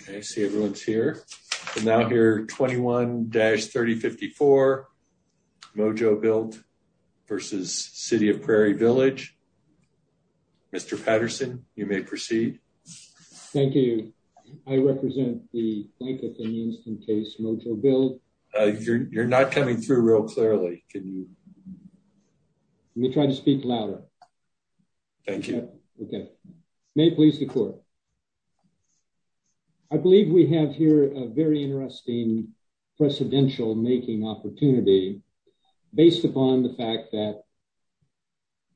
Okay, I see everyone's here and now here 21-3054 Mojo Built versus City of Prairie Village. Mr. Patterson, you may proceed. Thank you. I represent the Blanketh and Eamston case Mojo Built. You're not coming through real clearly. Can you? Let me try to speak louder. Thank you. Okay. May it please the court. I believe we have here a very interesting precedential making opportunity based upon the fact that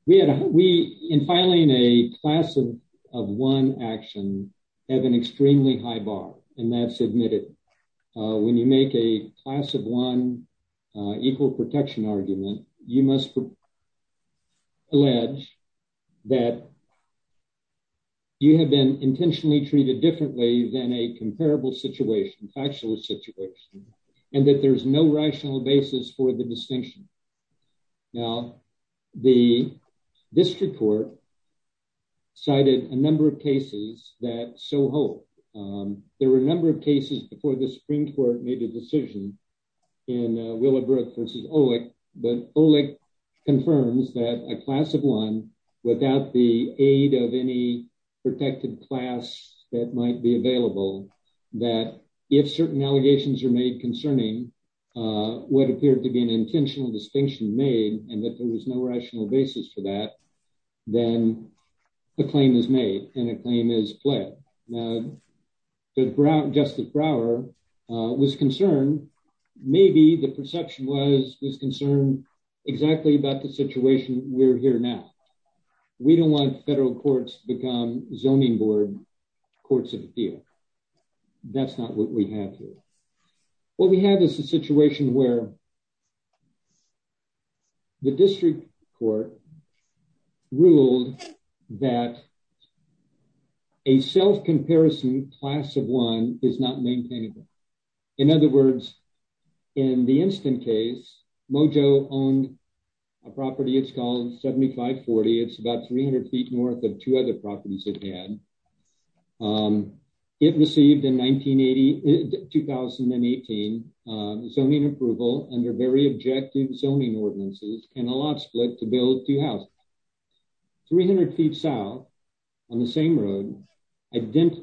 we in filing a class of one action have an extremely high bar and that's admitted. When you make a class of one equal protection argument, you must allege that you have been intentionally treated differently than a comparable situation, factual situation, and that there's no rational basis for the distinction. Now, the district court cited a number of cases that so hold. There were a number of cases before the Supreme Court made a decision in Willowbrook versus Olick, but Olick confirms that a class of one without the aid of any protected class that might be available, that if certain allegations are made concerning what appeared to be an intentional distinction made and that there was no rational basis for that, then a claim is made and a claim is fled. Now, Justice Brower was concerned, maybe the perception was concerned exactly about the situation we're here now. We don't want federal courts to become zoning board courts of appeal. That's not what we have here. What we have is a situation where the district court ruled that a self-comparison class of one is not maintained. In other words, in the instant case, Mojo owned a property, it's called 7540. It's about 300 feet north of two properties it had. It received in 2018 zoning approval under very objective zoning ordinances and a lot split to build two houses. 300 feet south on the same road,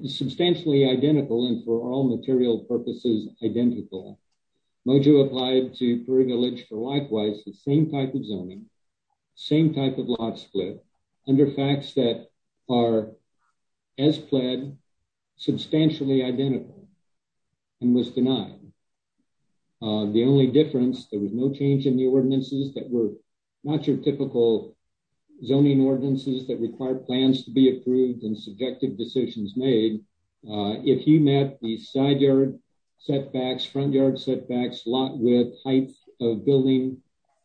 substantially identical and for all material purposes identical, Mojo applied to Prairie Village for likewise the same type of zoning, same type of lot split under facts that are as pled substantially identical and was denied. The only difference, there was no change in the ordinances that were not your typical zoning ordinances that require plans to be approved and subjective decisions made. If you met the side yard setbacks, front yard setbacks, lot width, height of building,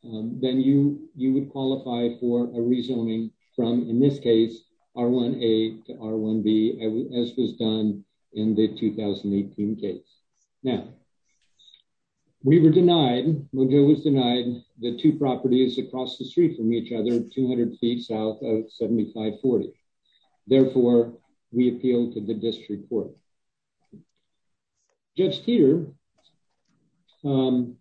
then you would qualify for a rezoning from, in this case, R1A to R1B as was done in the 2018 case. Now, we were denied, Mojo was denied the two properties across the street from each other, 200 feet south of 7540. Therefore, we appealed to the district court. Judge Teeter made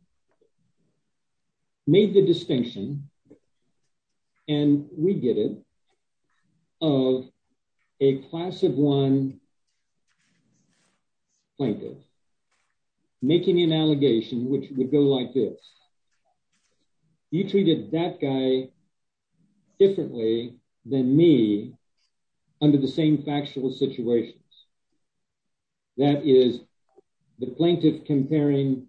the distinction, and we get it, of a class of one plaintiff making an allegation which would go like this, you treated that guy differently than me under the same factual situations. That is, the plaintiff comparing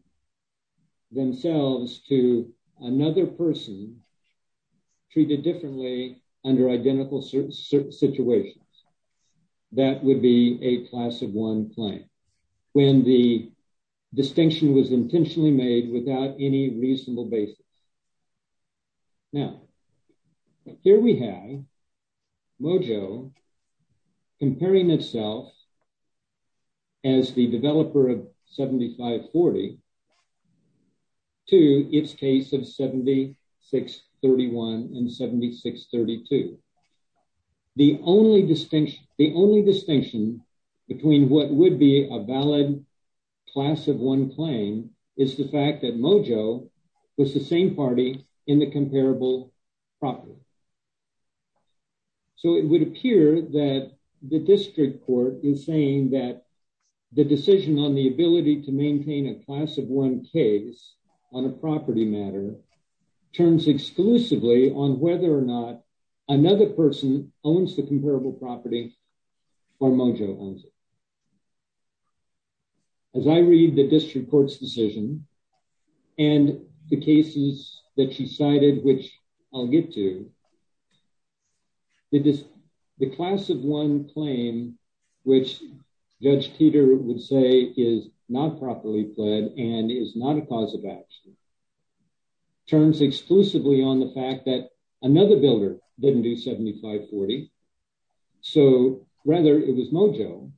themselves to another person treated differently under identical situations. That would be a class of one claim when the distinction was intentionally made without any reasonable basis. Now, here we have Mojo comparing itself as the developer of 7540 to its case of 7631 and 7632. The only distinction between what would be a valid class of one claim is the fact that Mojo was the same party in the comparable property. So, it would appear that the district court is saying that the decision on the ability to maintain a class of one case on a property matter turns exclusively on whether or not another person owns the comparable property or Mojo owns it. As I read the district court's decision on 7540 and 7632, the class of one claim, which Judge Teeter would say is not properly pled and is not a cause of action, turns exclusively on the fact that another builder didn't do 7540. So, rather, it was Mojo.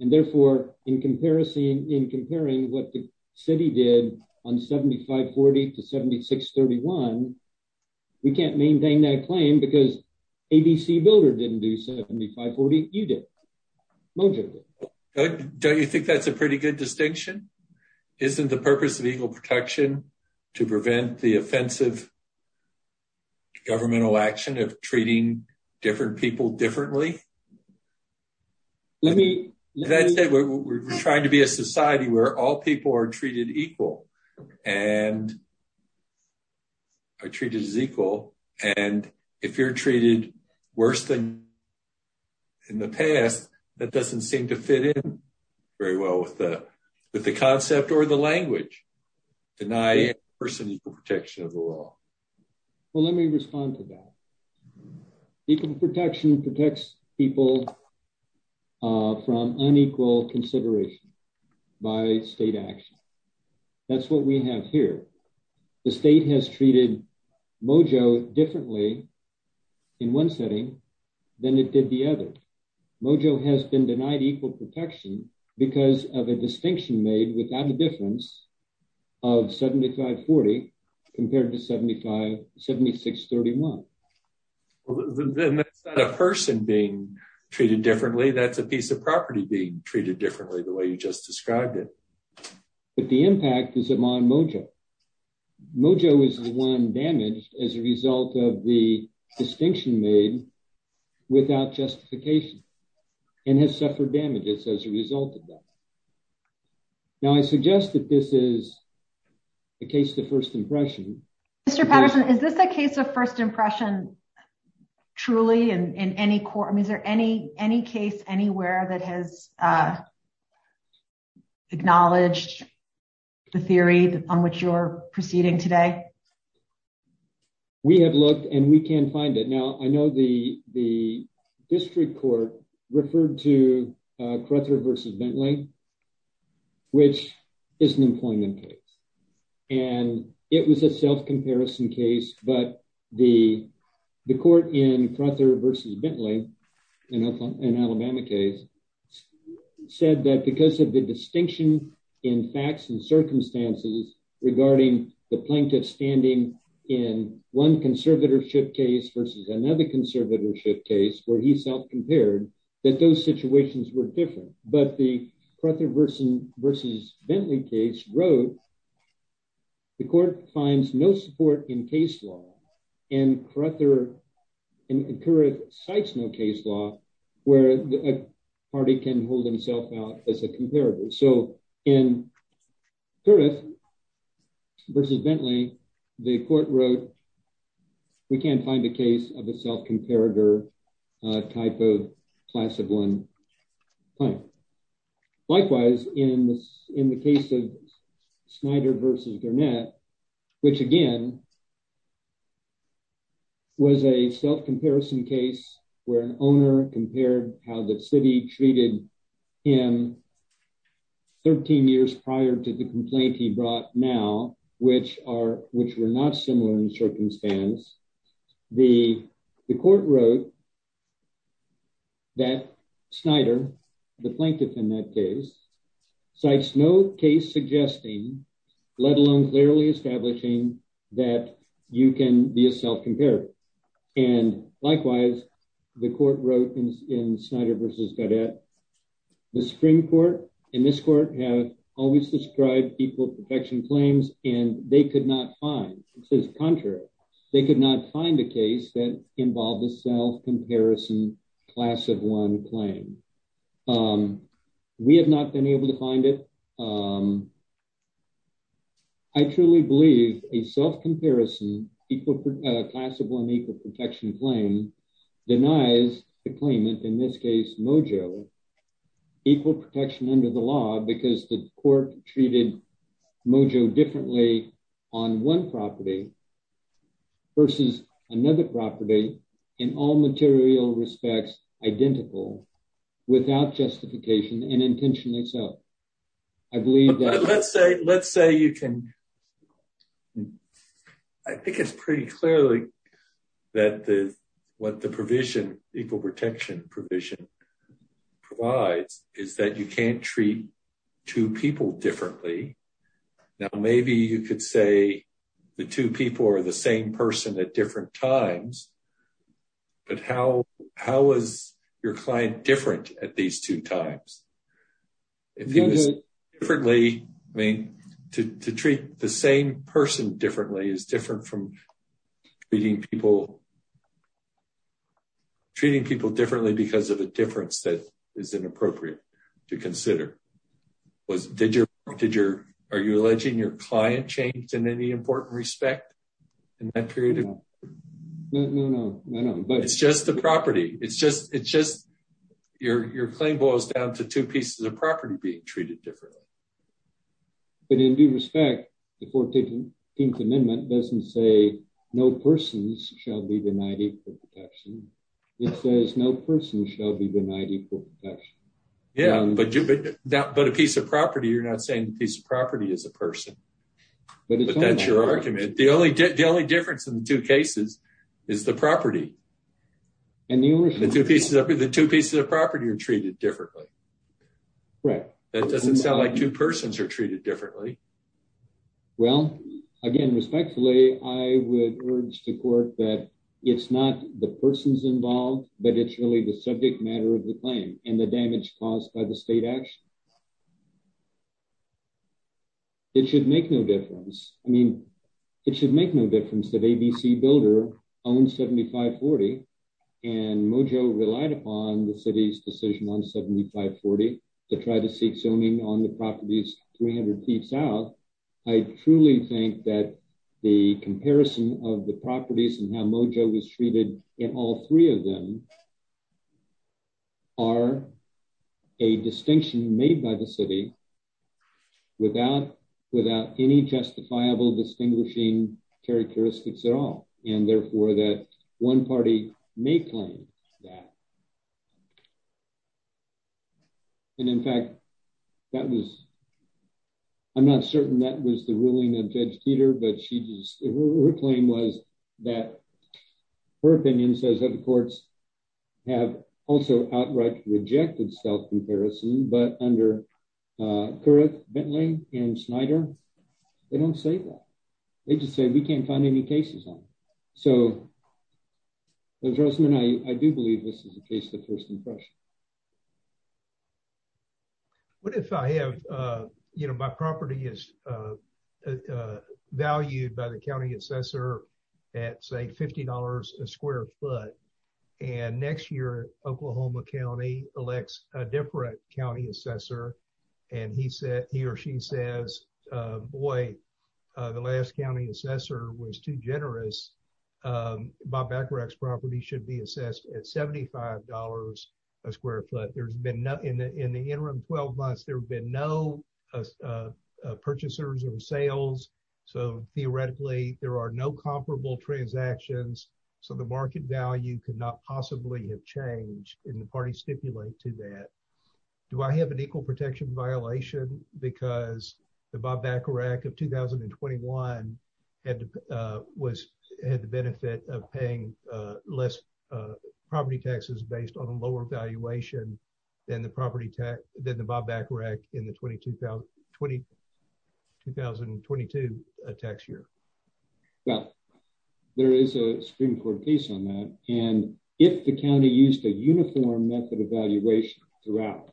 Therefore, in comparing what the city did on 7540 to 7631, we can't maintain that claim because ABC builder didn't do 7540. You did. Mojo did. Don't you think that's a pretty good distinction? Isn't the purpose of equal protection to prevent the offensive governmental action of treating different people differently? That's it. We're trying to be a society where all people are treated equal. Are treated as equal. And if you're treated worse than in the past, that doesn't seem to fit in very well with the concept or the language. Deny a person equal protection of the law. Well, let me respond to that. Equal protection protects people from unequal consideration by state action. That's what we have here. The state has treated Mojo differently in one setting than it did the other. Mojo has been denied equal protection because of a distinction made without the difference of 7540 compared to 7631. Then that's not a person being treated differently, that's a piece of property being treated differently the way you just described it. But the impact is on Mojo. Mojo is the one damaged as a result of the distinction made without justification and has suffered damages as a result of that. Now, I suggest that this is a case of first impression. Mr. Patterson, is this a case of anywhere that has acknowledged the theory on which you're proceeding today? We have looked and we can find it. Now, I know the district court referred to Cruther versus Bentley, which is an employment case. And it was a self-comparison case, but the court in Cruther versus Bentley, an Alabama case, said that because of the distinction in facts and circumstances regarding the plaintiff standing in one conservatorship case versus another conservatorship case where he self-compared, that those situations were different. But the Cruther versus Bentley case wrote, the court finds no support in case law and Cruther and Curriff cites no case law where a party can hold himself out as a comparator. So in Curriff versus Bentley, the court wrote, we can't find a case of a self-comparator type of class of one client. Likewise, in the case of Snyder versus Garnett, which again was a self-comparison case where an owner compared how the city treated him 13 years prior to the complaint he brought now, which were not similar in circumstance, the court wrote that Snyder, the plaintiff in that case, cites no case suggesting, let alone clearly establishing that you can be a self-comparator. And likewise, the court wrote in Snyder versus Garnett, the Supreme Court and this court have always described equal protection claims and they could not find, it says contrary, they could not find a case that involved a self-comparison class of one claim. We have not been able to find it. I truly believe a self-comparison class of one equal protection claim denies the claimant, in this case, Mojo, equal protection under the law because the court treated Mojo differently on one property versus another property in all material respects identical without justification and intention itself. I believe that... But let's say you can, I think it's pretty clearly that what the provision, equal protection provision provides is that you can't treat two people differently. Now, maybe you could say the two people are the same person at different times, but how is your client different at these two times? If he was differently, I mean, to treat the same person differently is different from treating people differently because of a difference that is inappropriate to consider. Are you alleging your client changed in any important respect in that period? No, no, no. It's just the property. It's just, your claim boils down to two pieces of property being treated differently. But in due respect, the 14th Amendment doesn't say, no persons shall be denied equal protection. It says, no person shall be denied equal protection. Yeah, but a piece of property, you're not saying a piece of property is a person, but that's your argument. The only difference in the two cases is the property. The two pieces of property are treated differently. Right. That doesn't sound like two persons are treated differently. Well, again, respectfully, I would urge the court that it's not the persons involved, but it's really the subject matter of the claim and the damage caused by the state action. It should make no difference. I mean, it should make no difference that ABC Builder owned 7540 and Mojo relied upon the city's decision on 7540 to try to seek zoning on the properties 300 feet south. I truly think that the comparison of the properties and how Mojo was treated in all three of them are a distinction made by the city without any justifiable distinguishing characteristics at all, and therefore that one party may claim that. And in fact, I'm not certain that was the ruling of Judge Peter, but her claim was that her opinion says that the courts have also outright rejected self-comparison, but under Bentley and Snyder, they don't say that. They just say we can't find any cases on it. So Judge Rossman, I do believe this is a case of first impression. What if I have, you know, my property is valued by the county assessor at, say, $50 a square foot, and next year, Oklahoma County elects a different county assessor, and he or she says, boy, the last county assessor was too generous. Bob Bacarach's property should be assessed at $75 a square foot. In the interim 12 months, there have been no purchasers or sales. So theoretically, there are no comparable transactions, so the market value could not possibly have changed, and the parties stipulate to that. Do I have an equal protection violation because the Bob Bacarach of 2021 had the benefit of paying less property taxes based on a lower valuation than the property Well, there is a Supreme Court case on that, and if the county used a uniform method of valuation throughout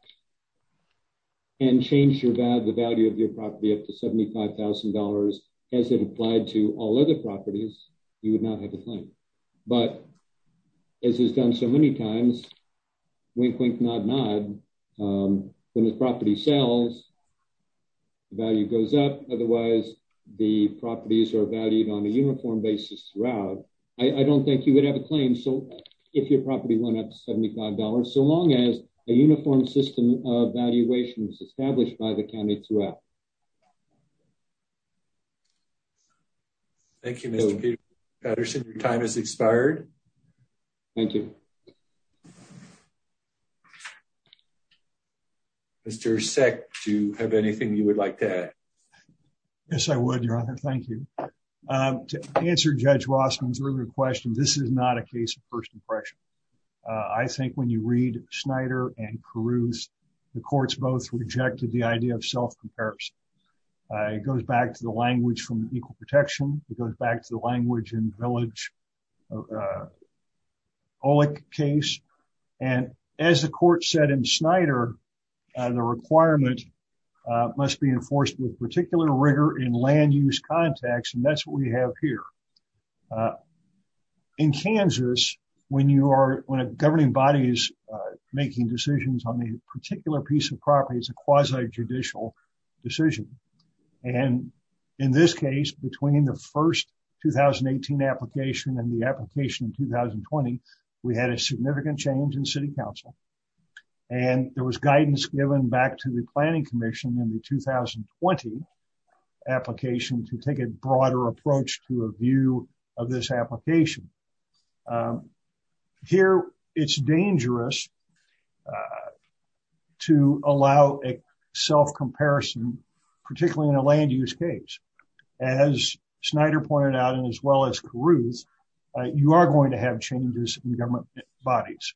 and changed the value of your property up to $75,000 as it applied to all other properties, you would not have a claim. But as is done so many times, wink, wink, nod, nod, when the property sells, the value goes up. Otherwise, the properties are valued on a uniform basis throughout. I don't think you would have a claim if your property went up to $75, so long as a uniform system of valuation is established by the county throughout. Thank you, Mr. Peterson. Your time has expired. Thank you. Mr. Seck, do you have anything you would like to add? Yes, I would, Your Honor. Thank you. To answer Judge Rossman's earlier question, this is not a case of first impression. I think when you read Snyder and Caruth, the courts both rejected the idea of self-comparison. It goes back to the Olick case. And as the court said in Snyder, the requirement must be enforced with particular rigor in land-use context, and that's what we have here. In Kansas, when a governing body is making decisions on a particular piece of property, it's a quasi-judicial decision. And in this case, between the first 2018 application and the application in 2020, we had a significant change in City Council, and there was guidance given back to the Planning Commission in the 2020 application to take a broader approach to a view of this application. Here, it's dangerous to allow a self-comparison, particularly in a land-use case. As Snyder pointed out, as well as Caruth, you are going to have changes in government bodies.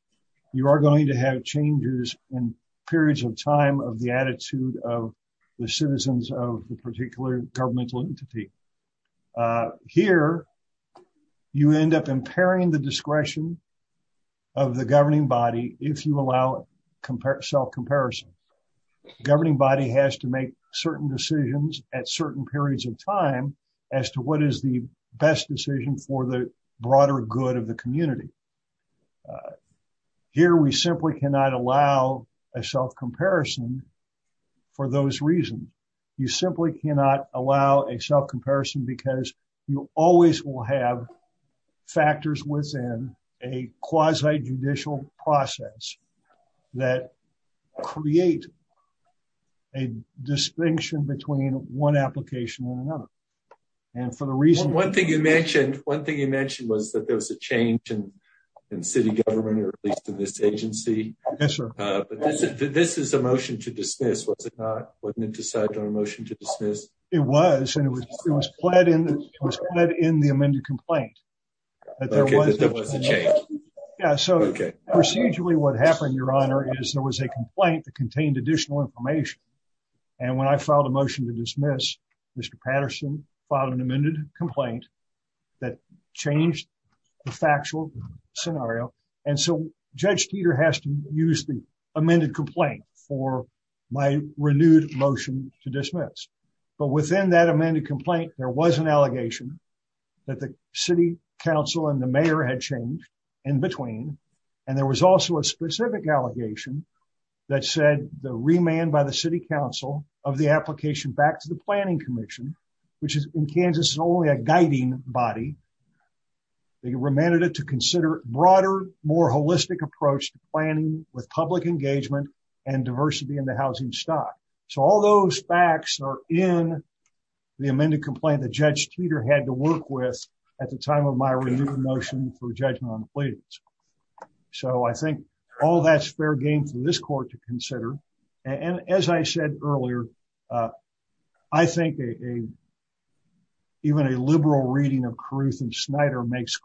You are going to have changes in periods of time of the attitude of the citizens of the particular governmental entity. Here, you end up impairing the discretion of the governing body if you allow self-comparison. The governing body has to make certain decisions at certain periods of time as to what is the best decision for the broader good of the community. Here, we simply cannot allow a self-comparison for those reasons. You simply cannot allow a self-comparison because you always will have factors within a quasi-judicial process that create a distinction between one application and another. One thing you mentioned was that there was a change in city government, or at least in this agency. This is a motion to dismiss, was it not? Wasn't it decided on a motion to dismiss? It was. It was pled in the amended complaint. Procedurally, what happened, Your Honor, is there was a complaint that contained additional information. When I filed a motion to dismiss, Mr. Patterson filed an amended complaint that changed the factual scenario. Judge Teeter has used the amended complaint for my renewed motion to dismiss. Within that amended complaint, there was an allegation that the city council and the mayor had changed in between. There was also a specific allegation that said the remand by the city council of the application back to the planning commission, which in Kansas is only a guiding body, they remanded it to consider a more holistic approach to planning with public engagement and diversity in the housing stock. So all those facts are in the amended complaint that Judge Teeter had to work with at the time of my renewed motion for judgment on the pleadings. So I think all that's fair game for this court to consider. And as I said earlier, I think even a liberal reading of Caruth and to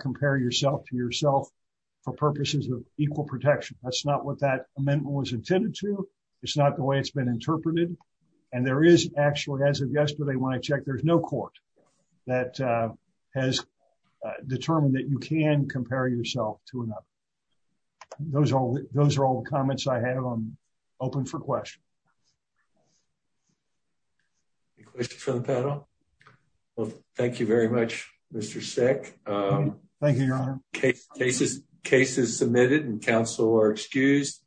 compare yourself to yourself for purposes of equal protection. That's not what that amendment was intended to. It's not the way it's been interpreted. And there is actually, as of yesterday when I checked, there's no court that has determined that you can compare yourself to another. Those are all the comments I have. I'm open for questions. Any questions for the panel? Well, thank you very much, Mr. Sick. Thank you, Your Honor. Cases submitted and counsel are excused.